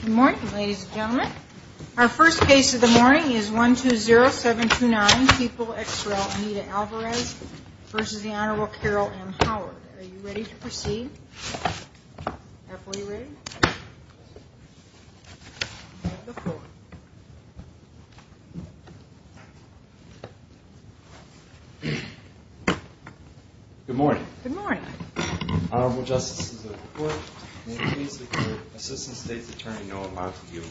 Good morning, ladies and gentlemen. Our first case of the morning is 120729, people ex rel. Anita Alvarez v. the Honorable Carol M. Howard. Are you ready to proceed? Good morning. Honorable Justices of the Court, may it please the court, Assistant State's Attorney Noah Montague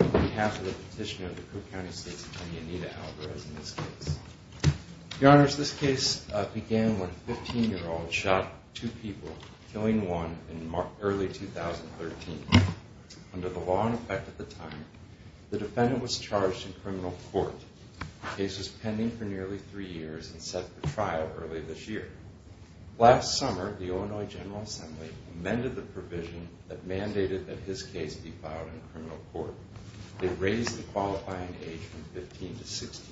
on behalf of the petitioner of the Cook County State's Attorney Anita Alvarez in this case. Your Honors, this case began when a 15-year-old shot two people, killing one in early 2013. Under the law in effect at the time, the defendant was charged in criminal court. The case was pending for nearly three years and set for trial early this year. Last summer, the Illinois General Assembly amended the provision that mandated that his case be filed in criminal court. They raised the qualifying age from 15 to 60.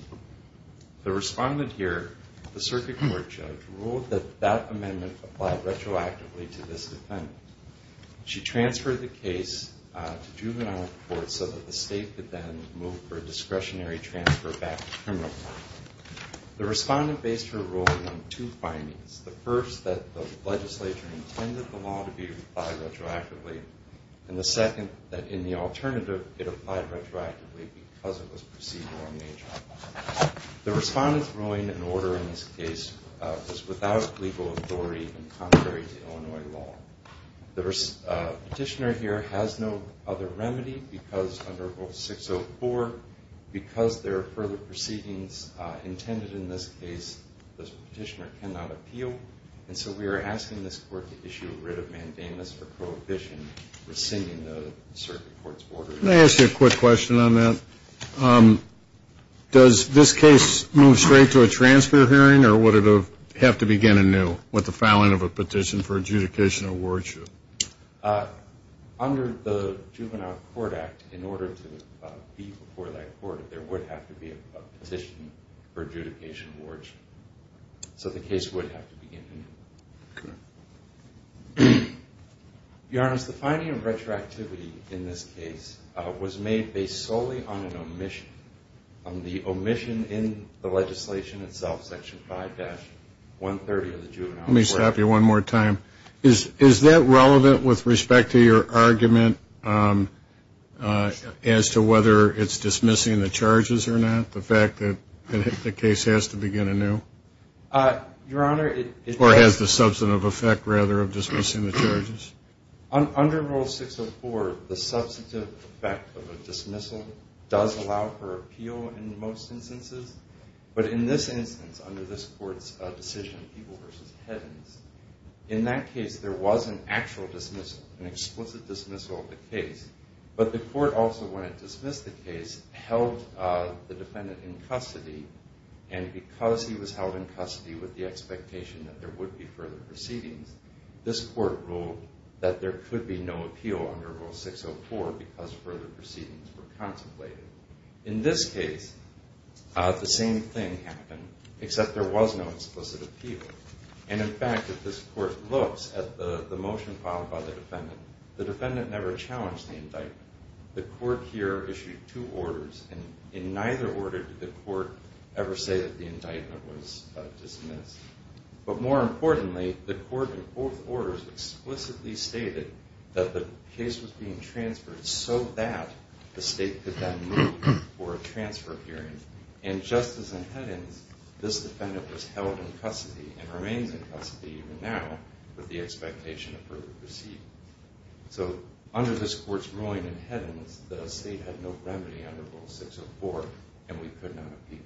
The respondent here, the circuit court judge, ruled that that amendment applied retroactively to this defendant. She transferred the case to juvenile court so that the state could then move for a discretionary transfer back to criminal court. The respondent based her ruling on two findings. The first, that the legislature intended the law to be applied retroactively, and the second, that in the alternative, it applied retroactively because it was procedural in nature. The respondent's ruling and order in this case was without legal authority and contrary to Illinois law. The petitioner here has no other remedy because under Rule 604, because there are further proceedings intended in this case, the petitioner cannot appeal, and so we are asking this court to issue a writ of mandamus or prohibition rescinding the circuit court's order. Let me ask you a quick question on that. Does this case move straight to a transfer hearing or would it have to begin anew with the filing of a petition for adjudication or wardship? Under the Juvenile Court Act, in order to be before that court, there would have to be a petition for adjudication or wardship. So the case would have to begin anew. Your Honor, the finding of retroactivity in this case was made based solely on an omission, on the omission in the legislation itself, Section 5-130 of the Juvenile Court Act. Let me stop you one more time. Is that relevant with respect to your argument as to whether it's dismissing the charges or not, the fact that the case has to begin anew? Or has the substantive effect, rather, of dismissing the charges? Under Rule 604, the substantive effect of a dismissal does allow for appeal in most instances, but in this instance, under this court's decision, people versus heavens, in that case there was an actual dismissal, an explicit dismissal of the case, but the court also, when it dismissed the case, held the defendant in custody, and because he was held in custody with the expectation that there would be further proceedings, this court ruled that there could be no appeal under Rule 604 because further proceedings were contemplated. In this case, the same thing happened, except there was no explicit appeal, and in fact, if this court looks at the motion filed by the defendant, the defendant never challenged the indictment. The court here issued two orders, and in neither order did the court ever say that the indictment was dismissed, but more importantly, the court in both orders explicitly stated that the case was being transferred so that the state could then move for a transfer hearing, and just as in headings, this defendant was held in custody and remains in custody even now with the expectation of further proceedings. So under this court's ruling in headings, the state had no remedy under Rule 604, and we could not appeal.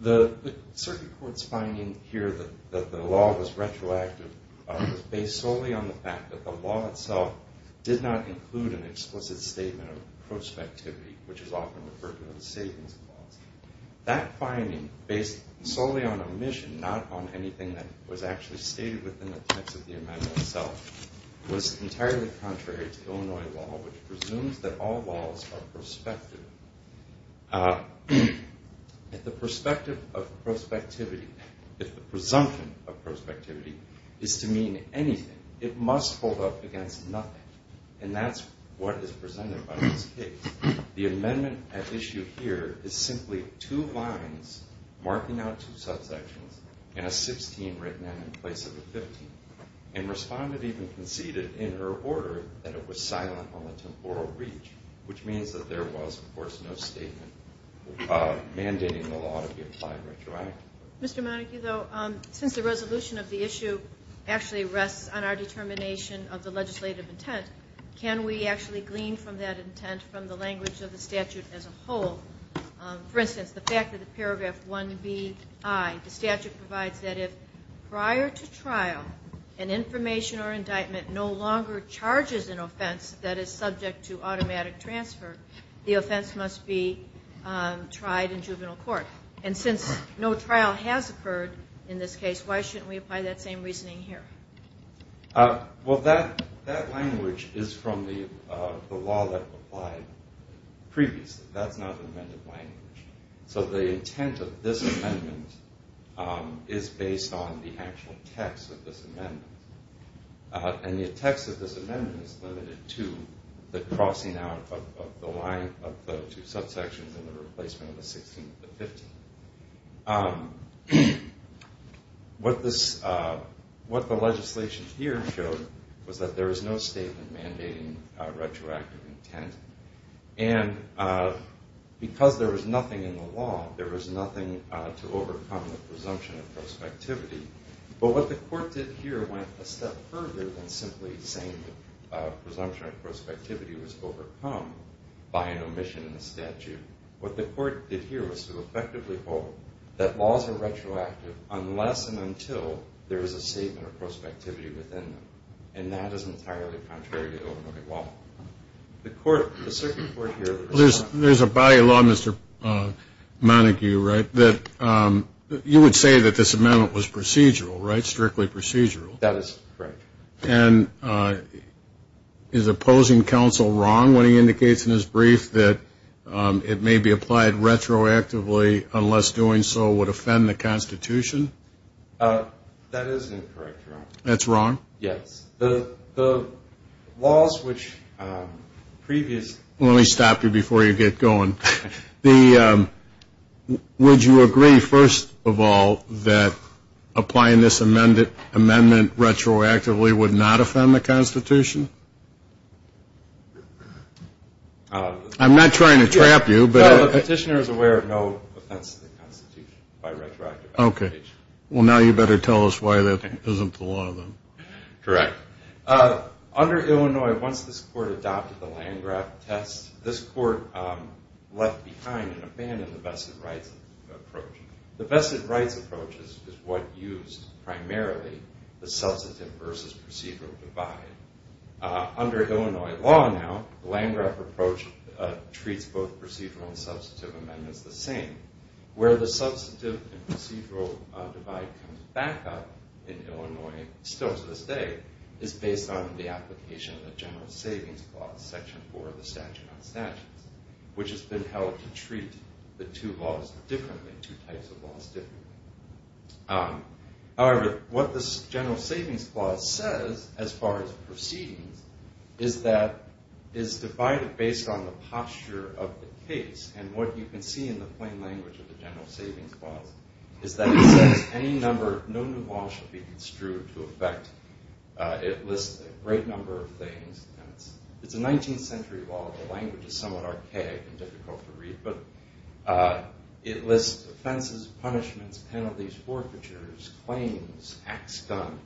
The circuit court's finding here that the law was retroactive was based solely on the fact that the law itself did not include an explicit statement of prospectivity, which is often referred to as a savings clause. That finding, based solely on omission, not on anything that was actually stated within the text of the amendment itself, was entirely contrary to Illinois law, which presumes that all laws are prospective. If the presumption of prospectivity is to mean anything, it must hold up against nothing, and that's what is presented by this case. The amendment at issue here is simply two lines marking out two subsections and a 16 written in place of a 15, and Respondent even conceded in her order that it was silent on the temporal reach, which means that there was no other way. There was, of course, no statement mandating the law to be applied retroactively. Mr. Monacchi, though, since the resolution of the issue actually rests on our determination of the legislative intent, can we actually glean from that intent from the language of the statute as a whole? For instance, the fact that the paragraph 1Bi, the statute provides that if prior to trial, an information or indictment no longer charges an offense that is subject to automatic transfer, the offense must be tried in juvenile court. And since no trial has occurred in this case, why shouldn't we apply that same reasoning here? Well, that language is from the law that applied previously. That's not an amended language. So the intent of this amendment is based on the actual text of this amendment, and the text of this amendment is limited to the crossing out of the line of the two subsections and the replacement of the 16 and the 15. What the legislation here showed was that there was no statement mandating retroactive intent, and because there was nothing in the law, there was nothing to overcome the presumption of prospectivity. But what the court did here went a step further than simply saying that presumption of prospectivity was overcome by an omission in the statute. What the court did here was to effectively hold that laws are retroactive unless and until there is a statement of prospectivity within them, and that is entirely contrary to Illinois law. There's a body of law, Mr. Montague, right, that you would say that this amendment was procedural, right? Strictly procedural? That is correct. And is opposing counsel wrong when he indicates in his brief that it may be applied retroactively unless doing so would offend the Constitution? That is incorrect, Your Honor. That's wrong? Yes. The laws which previously... Let me stop you before you get going. Would you agree, first of all, that applying this amendment retroactively would not offend the Constitution? I'm not trying to trap you, but... The petitioner is aware of no offense to the Constitution by retroactive application. Okay. Well, now you better tell us why that isn't the law, then. Correct. Under Illinois, once this court adopted the Landgraf test, this court left behind and abandoned the vested rights approach. The vested rights approach is what used primarily the substantive versus procedural divide. Under Illinois law now, the Landgraf approach treats both procedural and substantive amendments the same. Where the substantive and procedural divide comes back up in Illinois, still to this day, is based on the application of the General Savings Clause, Section 4 of the Statute on Statutes, which has been held to treat the two laws differently, two types of laws differently. However, what this General Savings Clause says, as far as proceedings, is that it's divided based on the posture of the case. And what you can see in the plain language of the General Savings Clause is that it says, Any number of known new laws should be construed to effect... It lists a great number of things. It's a 19th century law. The language is somewhat archaic and difficult to read. But it lists offenses, punishments, penalties, forfeitures, claims, acts done.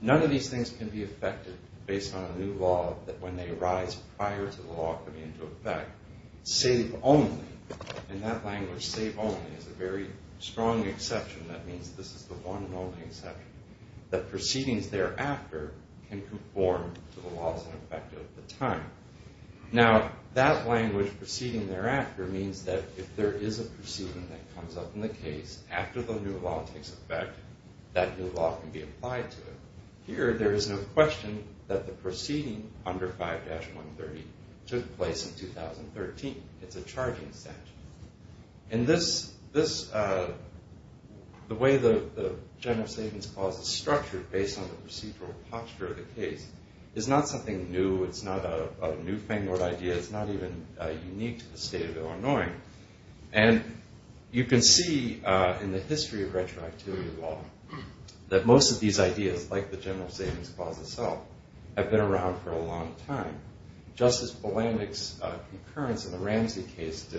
None of these things can be effected based on a new law that, when they arise prior to the law coming into effect, save only. In that language, save only is a very strong exception. That means this is the one and only exception. The proceedings thereafter can conform to the laws in effect at the time. Now, that language, proceeding thereafter, means that if there is a proceeding that comes up in the case after the new law takes effect, that new law can be applied to it. Here, there is no question that the proceeding under 5-130 took place in 2013. It's a charging statute. And this, the way the General Savings Clause is structured based on the procedural posture of the case is not something new. It's not a newfangled idea. It's not even unique to the state of Illinois. And you can see in the history of retroactivity law that most of these ideas, like the General Savings Clause itself, have been around for a long time. Justice Bolandic's concurrence in the Ramsey case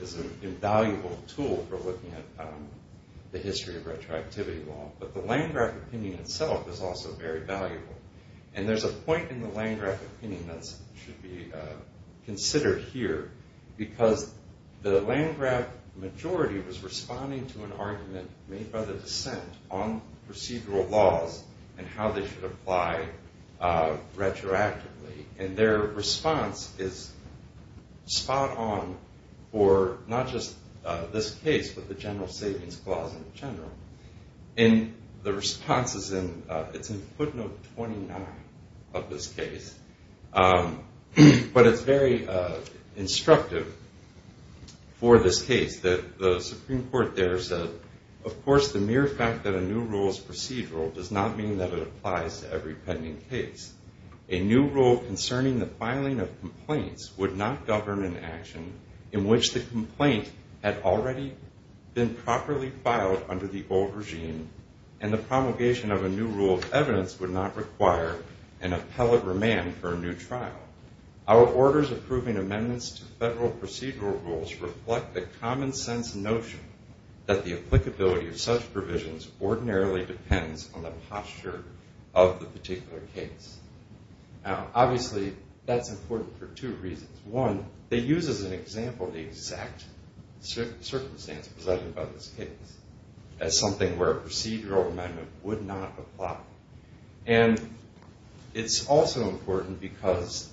is an invaluable tool for looking at the history of retroactivity law. But the Landgraf opinion itself is also very valuable. And there's a point in the Landgraf opinion that should be considered here because the Landgraf majority was responding to an argument made by the dissent on procedural laws and how they should apply retroactively. And their response is spot on for not just this case, but the General Savings Clause in general. And the response is in footnote 29 of this case. But it's very instructive for this case that the Supreme Court there said, of course the mere fact that a new rule is procedural does not mean that it applies to every pending case. A new rule concerning the filing of complaints would not govern an action in which the complaint had already been properly filed under the old regime and the promulgation of a new rule of evidence would not require an appellate remand for a new trial. Our orders approving amendments to federal procedural rules reflect the common sense notion that the applicability of such provisions ordinarily depends on the posture of the particular case. Now obviously that's important for two reasons. One, they use as an example the exact circumstance presented by this case as something where a procedural amendment would not apply. And it's also important because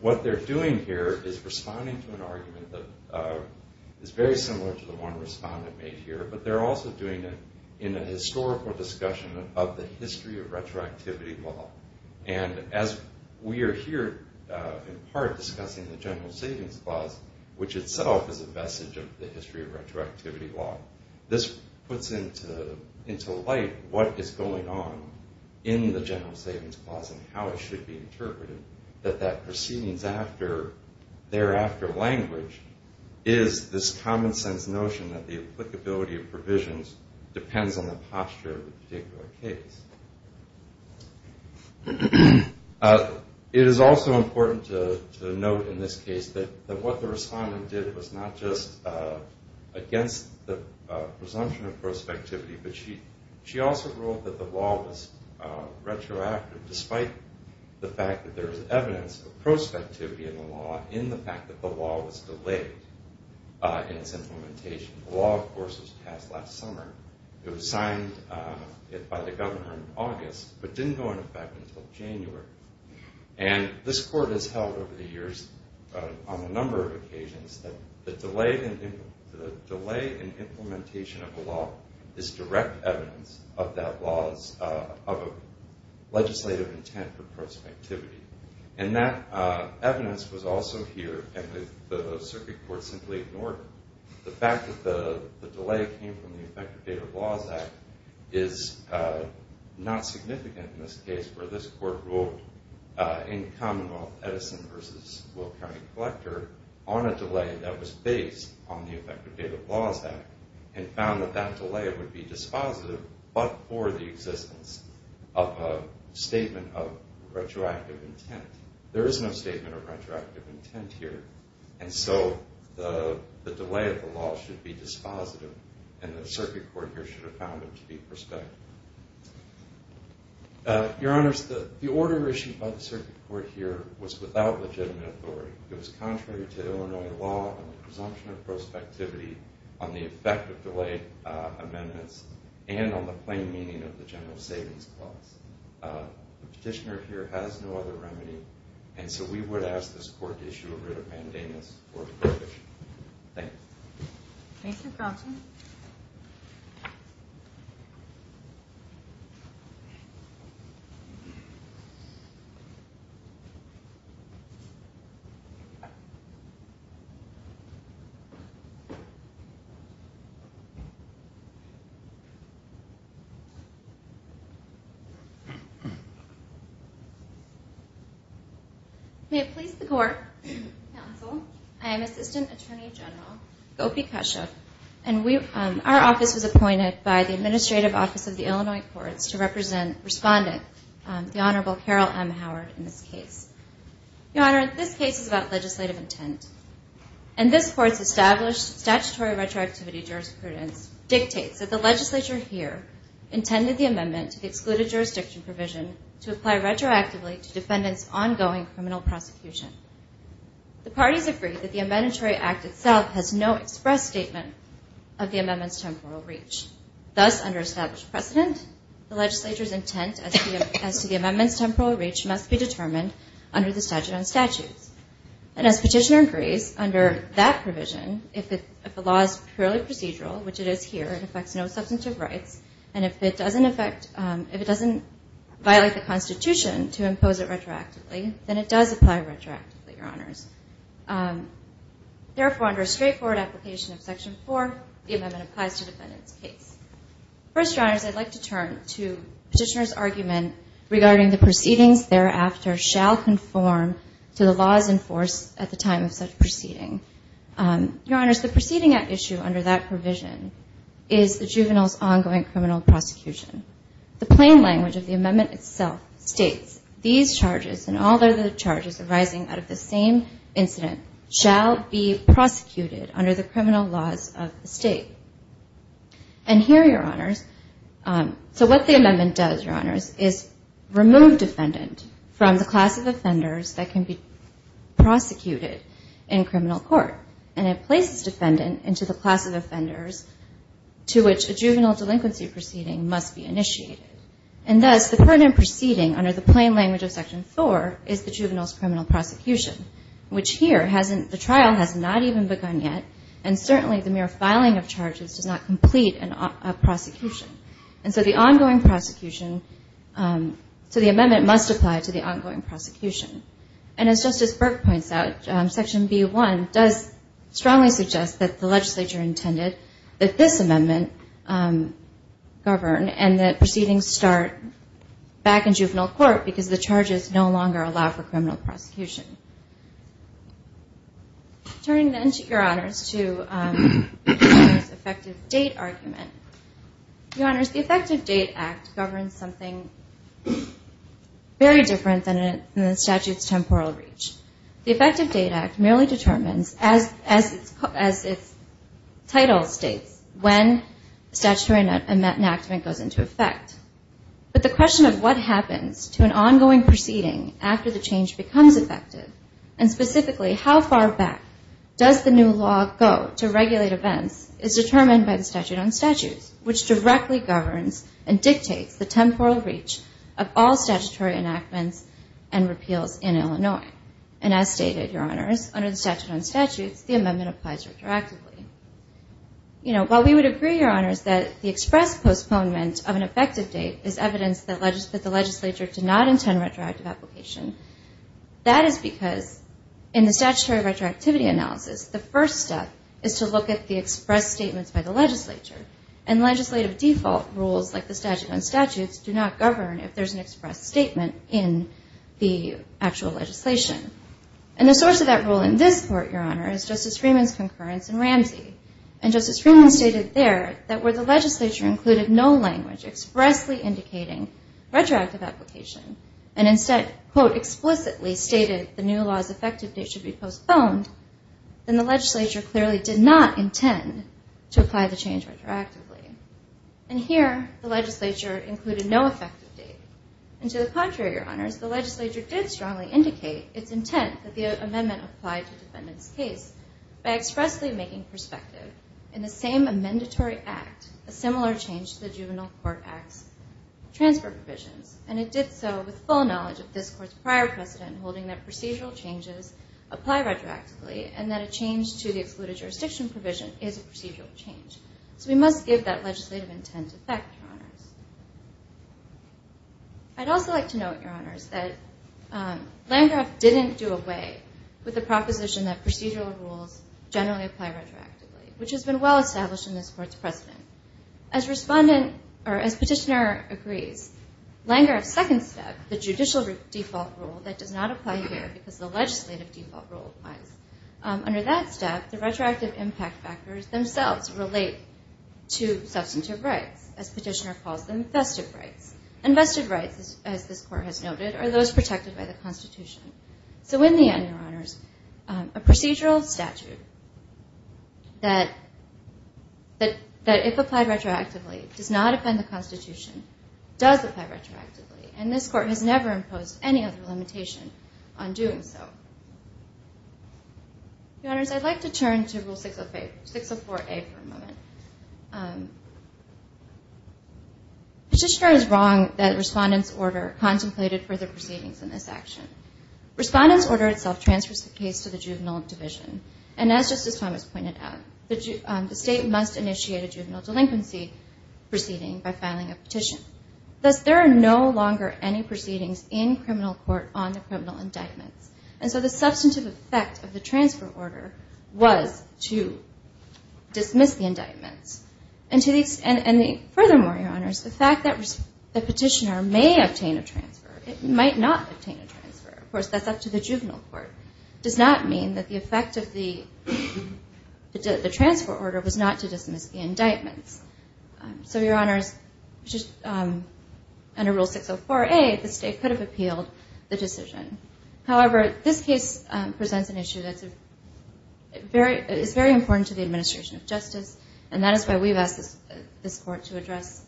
what they're doing here is responding to an argument that is very similar to the one the respondent made here, but they're also doing it in a historical discussion of the history of retroactivity law. And as we are here in part discussing the General Savings Clause, which itself is a message of the history of retroactivity law, this puts into light what is going on in the General Savings Clause and how it should be interpreted, that that proceedings thereafter language is this common sense notion that the applicability of provisions depends on the posture of the particular case. It is also important to note in this case that what the respondent did was not just against the presumption of prospectivity, but she also ruled that the law was retroactive despite the fact that there is evidence of prospectivity in the law in the fact that the law was delayed in its implementation. The law, of course, was passed last summer. It was signed by the government in August, but didn't go into effect until January. And this Court has held over the years on a number of occasions that the delay in implementation of the law is direct evidence of that law's legislative intent for prospectivity. And that evidence was also here, and the Circuit Court simply ignored the fact that the delay came from the Effective Data of Laws Act is not significant in this case, where this Court ruled in Commonwealth Edison v. Will County Collector on a delay that was based on the Effective Data of Laws Act and found that that delay would be dispositive but for the existence of a statement of retroactive intent. There is no statement of retroactive intent here, and so the delay of the law should be dispositive, and the Circuit Court here should have found it to be prospective. Your Honors, the order issued by the Circuit Court here was without legitimate authority. It was contrary to Illinois law and the presumption of prospectivity on the effect of delayed amendments and on the plain meaning of the General Savings Clause. The petitioner here has no other remedy, and so we would ask this Court to issue a writ of mandamus for the petition. Thank you. May it please the Court, Counsel, I am Assistant Attorney General Gopi Keshav, and our office was appointed by the Administrative Office of the Illinois Courts to represent Respondent, the Honorable Carol M. Howard, in this case. Your Honor, this case is about legislative intent, and this Court's established statutory retroactivity jurisprudence dictates that the legislature here intended the amendment to the excluded jurisdiction provision to apply retroactively to defendants' ongoing criminal prosecution. The parties agree that the Amendment Act itself has no express statement of the amendment's temporal reach. Thus, under established precedent, the legislature's intent as to the amendment's temporal reach must be determined under the statute on statutes. And as petitioner agrees, under that provision, if the law is purely procedural, which it is here, it affects no substantive rights, and if it doesn't affect, if it doesn't violate the Constitution to impose it retroactively, then it does apply retroactively, Your Honors. Therefore, under a straightforward application of Section 4, the amendment applies to defendants' case. First, Your Honors, I'd like to turn to petitioner's argument regarding the proceedings thereafter shall conform to the laws enforced at the time of such proceeding. Your Honors, the proceeding at issue under that provision is the juvenile's ongoing criminal prosecution. The plain language of the amendment itself states these charges, and all other charges arising out of the same incident, shall be prosecuted under the criminal laws of the State. And here, Your Honors, so what the amendment does, Your Honors, is remove defendant from the class of offenders that can be prosecuted in criminal court, and it places defendant into the class of offenders to which a juvenile delinquency proceeding must be initiated. And thus, the current proceeding under the plain language of Section 4 is the juvenile's criminal prosecution, which here, the trial has not even begun yet, and certainly the mere filing of charges does not complete a prosecution. And so the ongoing prosecution, so the amendment must apply to the ongoing prosecution. And as Justice Burke points out, Section B1 does strongly suggest that the legislature intended that this amendment govern, and that proceedings start back in juvenile court because the charges no longer allow for criminal prosecution. Turning then, Your Honors, to the juvenile's effective date argument, Your Honors, the Effective Date Act governs something very different than the statute's temporal reach. The Effective Date Act merely determines, as its title states, when a statutory enactment goes into effect. But the question of what happens to an ongoing proceeding after the change becomes effective, and specifically how far back does the new law go to regulate events, is determined by the statute on statutes, which directly governs and dictates the temporal reach of all statutory enactments and repeals in Illinois. And as stated, Your Honors, under the statute on statutes, the amendment applies retroactively. While we would agree, Your Honors, that the express postponement of an effective date is evidence that the legislature did not intend retroactive application, that is because in the statutory retroactivity analysis, the first step is to look at the express statements by the legislature. And legislative default rules, like the statute on statutes, do not govern if there's an express statement in the actual legislation. And the source of that rule in this court, Your Honor, is Justice Freeman's concurrence in Ramsey. And Justice Freeman stated there that where the legislature included no language expressly indicating retroactive application, and instead, quote, explicitly stated the new law's effective date should be postponed, then the legislature clearly did not intend to apply the change retroactively. And here, the legislature included no effective date. And to the contrary, Your Honors, the legislature did strongly indicate its intent that the amendment apply to defendant's case by expressly making perspective in the same amendatory act a similar change to the juvenile court act's transfer provisions. And it did so with full knowledge of this court's prior precedent holding that procedural changes apply retroactively and that a change to the excluded jurisdiction provision is a procedural change. So we must give that legislative intent effect, Your Honors. I'd also like to note, Your Honors, that Landgraf didn't do away with the proposition that procedural rules generally apply retroactively, which has been well established in this court's precedent. As petitioner agrees, Landgraf's second step, the judicial default rule that does not apply here because the legislative default rule applies, under that step, the retroactive impact factors themselves relate to substantive rights, as petitioner calls them, festive rights. And festive rights, as this court has noted, are those protected by the Constitution. So in the end, Your Honors, a procedural statute that, if applied retroactively, does not offend the Constitution, does apply retroactively, and this court has never imposed any other limitation on doing so. Your Honors, I'd like to turn to Rule 604A for a moment. Petitioner is wrong that Respondent's Order contemplated further proceedings in this action. Respondent's Order itself transfers the case to the juvenile division, and as Justice Thomas pointed out, the state must initiate a juvenile delinquency proceeding by filing a petition. Thus, there are no longer any proceedings in criminal court on the criminal indictments, and so the substantive effect of the transfer order was to dismiss the indictments. And furthermore, Your Honors, the fact that the petitioner may obtain a transfer, it might not obtain a transfer, of course, that's up to the juvenile court, does not mean that the effect of the transfer order was not to dismiss the indictments. So, Your Honors, under Rule 604A, the state could have appealed the decision. However, this case presents an issue that is very important to the administration of justice, and that is why we've asked this court to address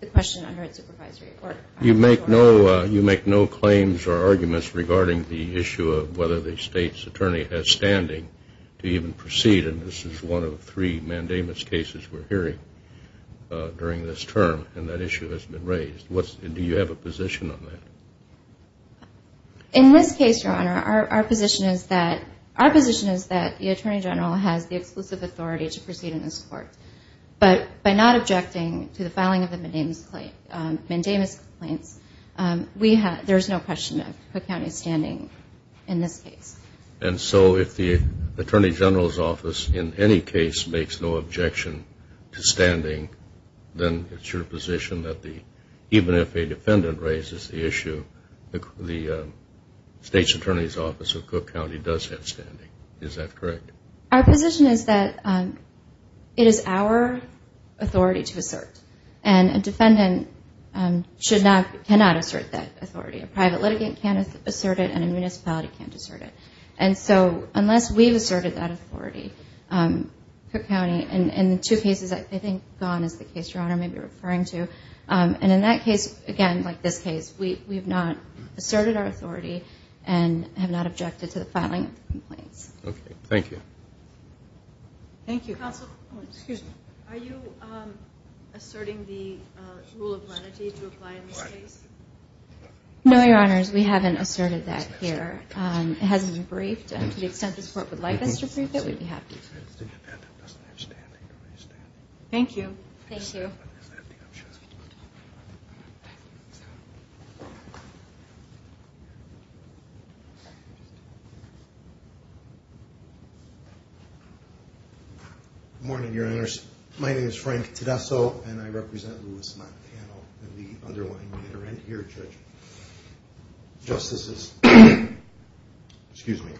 the question under its supervisory order. You make no claims or arguments regarding the issue of whether the state's attorney has standing to even proceed, and this is one of three mandamus cases we're hearing during this term, and that issue has been raised. Do you have a position on that? In this case, Your Honor, our position is that the Attorney General has the exclusive authority to proceed in this court, but by not objecting to the filing of the mandamus complaints, there's no question of Cook County's standing in this case. And so if the Attorney General's office in any case makes no objection to standing, then it's your position that even if a defendant raises the issue, the state's attorney's office of Cook County does have standing. Is that correct? Our position is that it is our authority to assert, and a defendant cannot assert that authority. A private litigant can't assert it, and a municipality can't assert it. And so unless we've asserted that authority, Cook County, and the two cases I think gone is the case Your Honor may be referring to, and in that case, again, like this case, we have not asserted our authority and have not objected to the filing of the complaints. Okay. Thank you. Thank you. Counsel, are you asserting the rule of lenity to apply in this case? No, Your Honors, we haven't asserted that here. It hasn't been briefed, and to the extent this court would like us to brief it, we'd be happy to. Thank you. Thank you. Good morning, Your Honors. My name is Frank Tedesco, and I represent Louis, Montana, and the underlying litigant here, Judge. Justices, excuse me.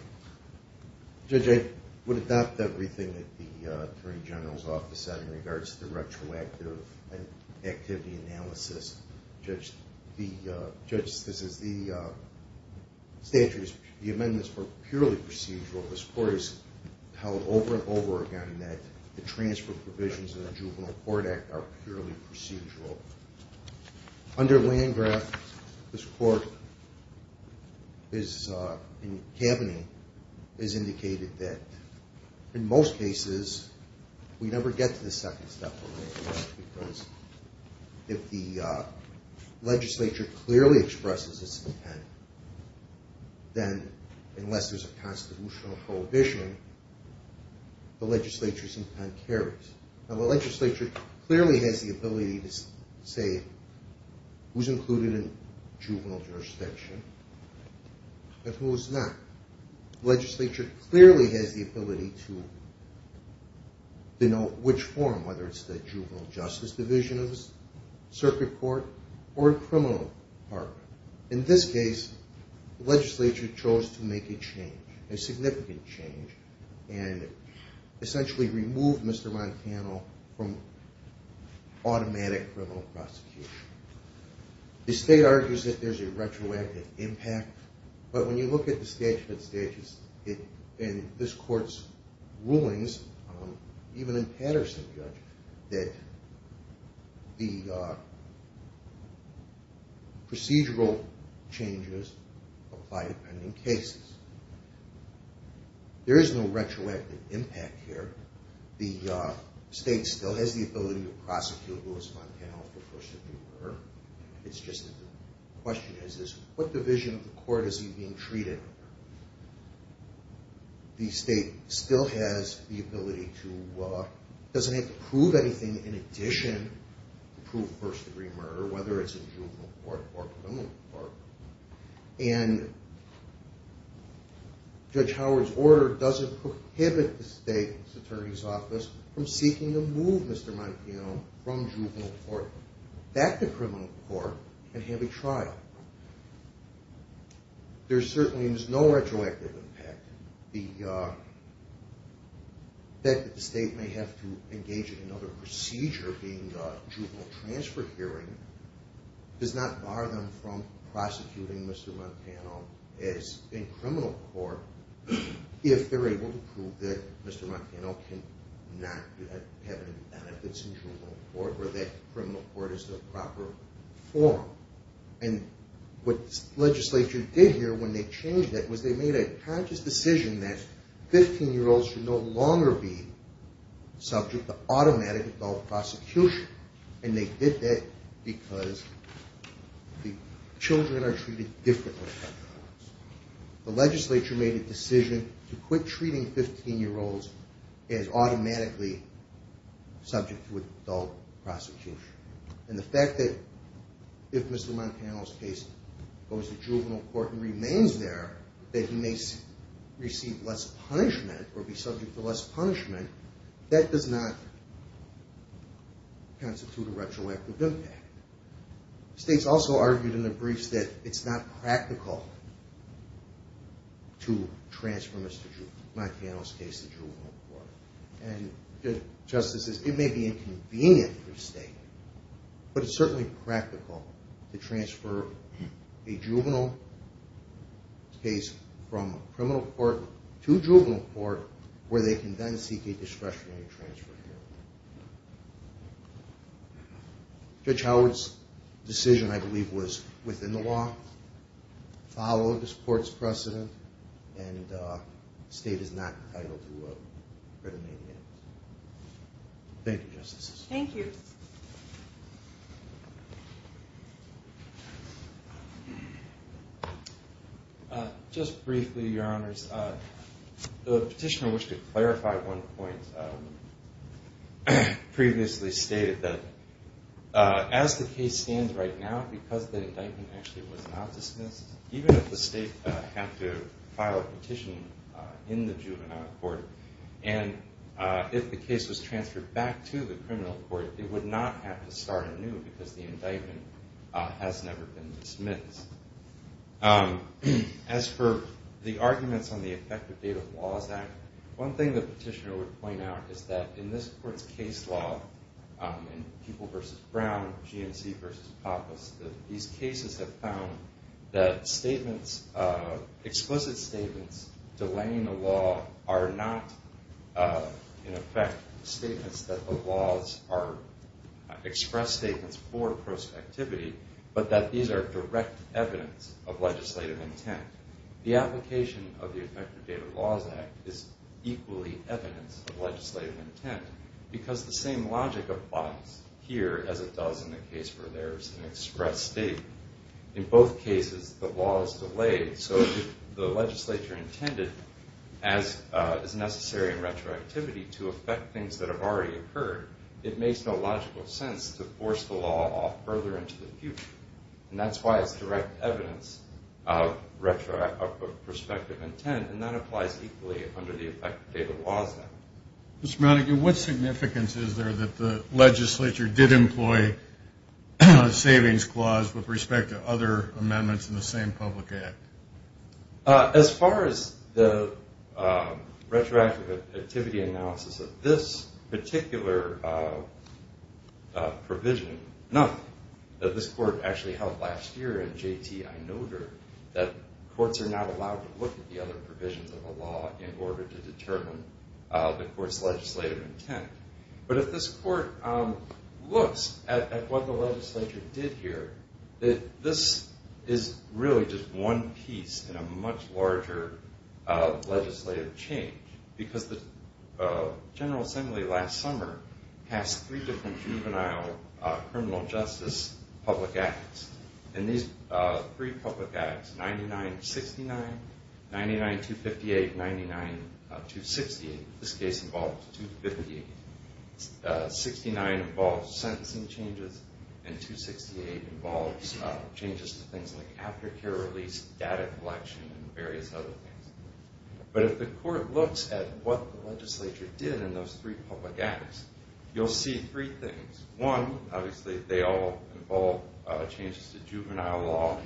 Judge, I would adopt everything that the attorney general's office said in regards to the retroactive activity analysis. Judge, this is the statutes. The amendments were purely procedural. This court has held over and over again that the transfer provisions of the Juvenile Court Act are purely procedural. Under Landgraf, this court is in cabinet, has indicated that in most cases, we never get to the second step of Landgraf, because if the legislature clearly expresses its intent, then unless there's a constitutional prohibition, the legislature's intent carries. Now, the legislature clearly has the ability to say who's included in juvenile jurisdiction and who's not. The legislature clearly has the ability to denote which form, whether it's the juvenile justice division of the circuit court or a criminal part. In this case, the legislature chose to make a change, a significant change, and essentially removed Mr. Montano from automatic criminal prosecution. The state argues that there's a retroactive impact, but when you look at the statute and this court's rulings, even in Patterson, Judge, that the procedural changes apply to pending cases. There is no retroactive impact here. The state still has the ability to prosecute Louis Montano if it prefers to do so. It's just that the question is, what division of the court is he being treated under? The state still has the ability to – doesn't have to prove anything in addition to prove first-degree murder, whether it's in juvenile court or criminal court. And Judge Howard's order doesn't prohibit the state's attorney's office from seeking to move Mr. Montano from juvenile court back to criminal court and have a trial. There certainly is no retroactive impact. The fact that the state may have to engage in another procedure, being a juvenile transfer hearing, does not bar them from prosecuting Mr. Montano in criminal court if they're able to prove that Mr. Montano cannot have any benefits in juvenile court or that criminal court is the proper forum. And what the legislature did here when they changed that was they made a conscious decision that 15-year-olds should no longer be subject to automatic adult prosecution. And they did that because the children are treated differently. The legislature made a decision to quit treating 15-year-olds as automatically subject to adult prosecution. And the fact that if Mr. Montano's case goes to juvenile court and remains there, that he may receive less punishment or be subject to less punishment, that does not constitute a retroactive impact. The state's also argued in the briefs that it's not practical to transfer Mr. Montano's case to juvenile court. And justices, it may be inconvenient for the state, but it's certainly practical to transfer a juvenile case from criminal court to juvenile court where they can then seek a discretionary transfer hearing. Judge Howard's decision, I believe, was within the law, followed the court's precedent, and the state is not entitled to a written amendment. Thank you, justices. Thank you. Just briefly, Your Honors. The petitioner wished to clarify one point previously stated that as the case stands right now, because the indictment actually was not dismissed, even if the state had to file a petition in the juvenile court, and if the case was transferred back to the criminal court, it would not have to start anew because the indictment has never been dismissed. As for the arguments on the Effective Data Laws Act, one thing the petitioner would point out is that in this court's case law, in People v. Brown, G&C v. Papas, these cases have found that explicit statements delaying the law are not, in effect, statements that the laws are expressed statements for prospectivity, but that these are direct evidence of legislative intent. The application of the Effective Data Laws Act is equally evidence of legislative intent because the same logic applies here as it does in the case where there is an express statement. In both cases, the law is delayed, so if the legislature intended, as is necessary in retroactivity, to affect things that have already occurred, it makes no logical sense to force the law off further into the future, and that's why it's direct evidence of prospective intent, and that applies equally under the Effective Data Laws Act. Mr. Monaghan, what significance is there that the legislature did employ a savings clause with respect to other amendments in the same public act? As far as the retroactive activity analysis of this particular provision, nothing. This court actually held last year in J.T. I. Noter that courts are not allowed to look at the other provisions of a law in order to determine the court's legislative intent. But if this court looks at what the legislature did here, this is really just one piece in a much larger legislative change because the General Assembly last summer passed three different juvenile criminal justice public acts. In these three public acts, 99-69, 99-258, and 99-268, this case involves 258. 69 involves sentencing changes, and 268 involves changes to things like aftercare release, data collection, and various other things. But if the court looks at what the legislature did in those three public acts, you'll see three things. One, obviously, they all involve changes to juvenile law.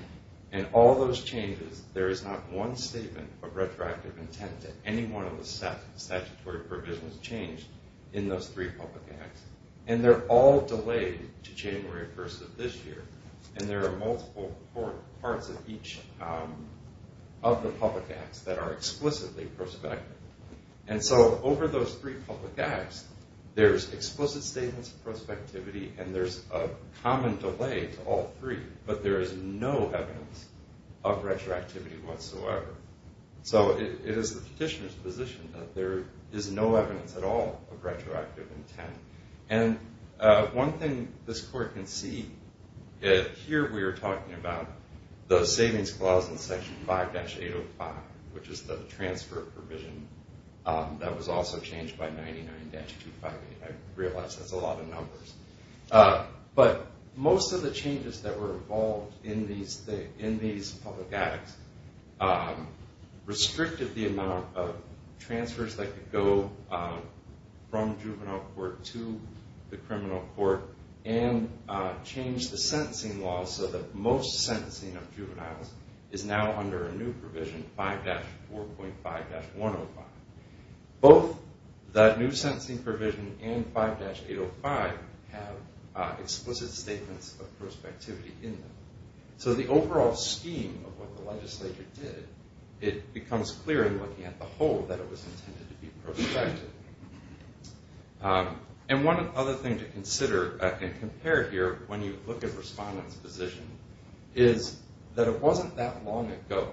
In all those changes, there is not one statement of retroactive intent to any one of the statutory provisions changed in those three public acts. And they're all delayed to January 1st of this year, and there are multiple parts of each of the public acts that are explicitly prospective. And so over those three public acts, there's explicit statements of prospectivity, and there's a common delay to all three, but there is no evidence of retroactivity whatsoever. So it is the petitioner's position that there is no evidence at all of retroactive intent. And one thing this court can see, here we are talking about the savings clause in Section 5-805, which is the transfer provision that was also changed by 99-258. I realize that's a lot of numbers. But most of the changes that were involved in these public acts restricted the amount of transfers that could go from juvenile court to the criminal court and changed the sentencing law so that most sentencing of juveniles is now under a new provision, 5-4.5-105. Both that new sentencing provision and 5-805 have explicit statements of prospectivity in them. So the overall scheme of what the legislature did, it becomes clear in looking at the whole that it was intended to be prospective. And one other thing to consider and compare here when you look at Respondent's position is that it wasn't that long ago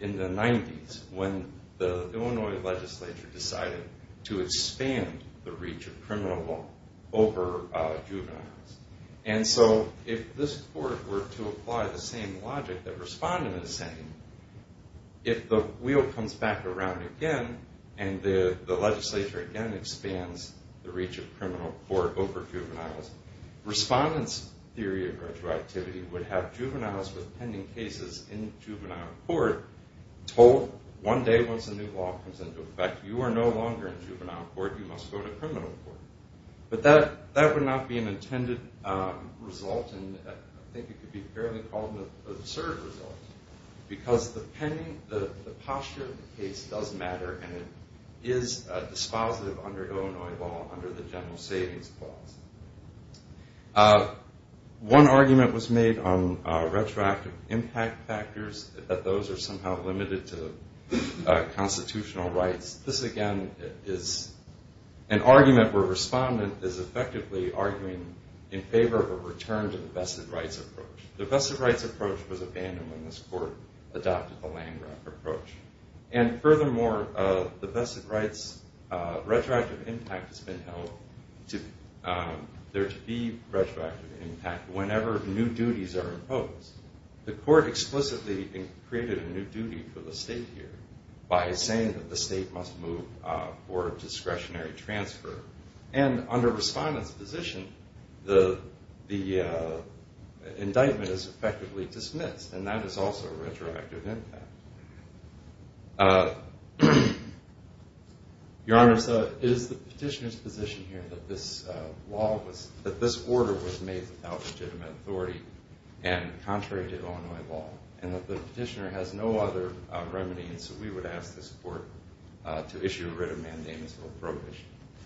in the 90s when the Illinois legislature decided to expand the reach of criminal law over juveniles. And so if this court were to apply the same logic that Respondent is saying, if the wheel comes back around again and the legislature again expands the reach of criminal court over juveniles, Respondent's theory of retroactivity would have juveniles with pending cases in juvenile court told one day once a new law comes into effect, you are no longer in juvenile court, you must go to criminal court. But that would not be an intended result and I think it could be fairly called an absurd result because the posture of the case does matter and it is dispositive under Illinois law under the General Savings Clause. One argument was made on retroactive impact factors, that those are somehow limited to constitutional rights. This again is an argument where Respondent is effectively arguing in favor of a return to the vested rights approach. The vested rights approach was abandoned when this court adopted the land grab approach. And furthermore, the vested rights retroactive impact has been held there to be retroactive impact whenever new duties are imposed. The court explicitly created a new duty for the state here by saying that the state must move for a discretionary transfer. And under Respondent's position, the indictment is effectively dismissed and that is also retroactive impact. Your Honor, so is the petitioner's position here that this law was, that this order was made without legitimate authority and contrary to Illinois law and that the petitioner has no other remedies that we would ask this court to issue a writ of mandamus or a probe issue?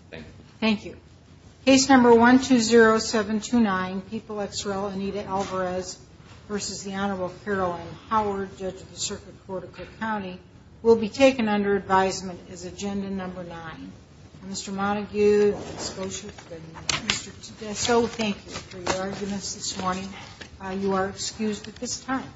Thank you. Thank you. Case number 120729, People x Rel Anita Alvarez v. The Honorable Caroline Howard, Judge of the Circuit Court of Cook County, will be taken under advisement as agenda number nine. Mr. Montague, I suppose you've been Mr. Tedesco, thank you for your arguments this morning. You are excused at this time.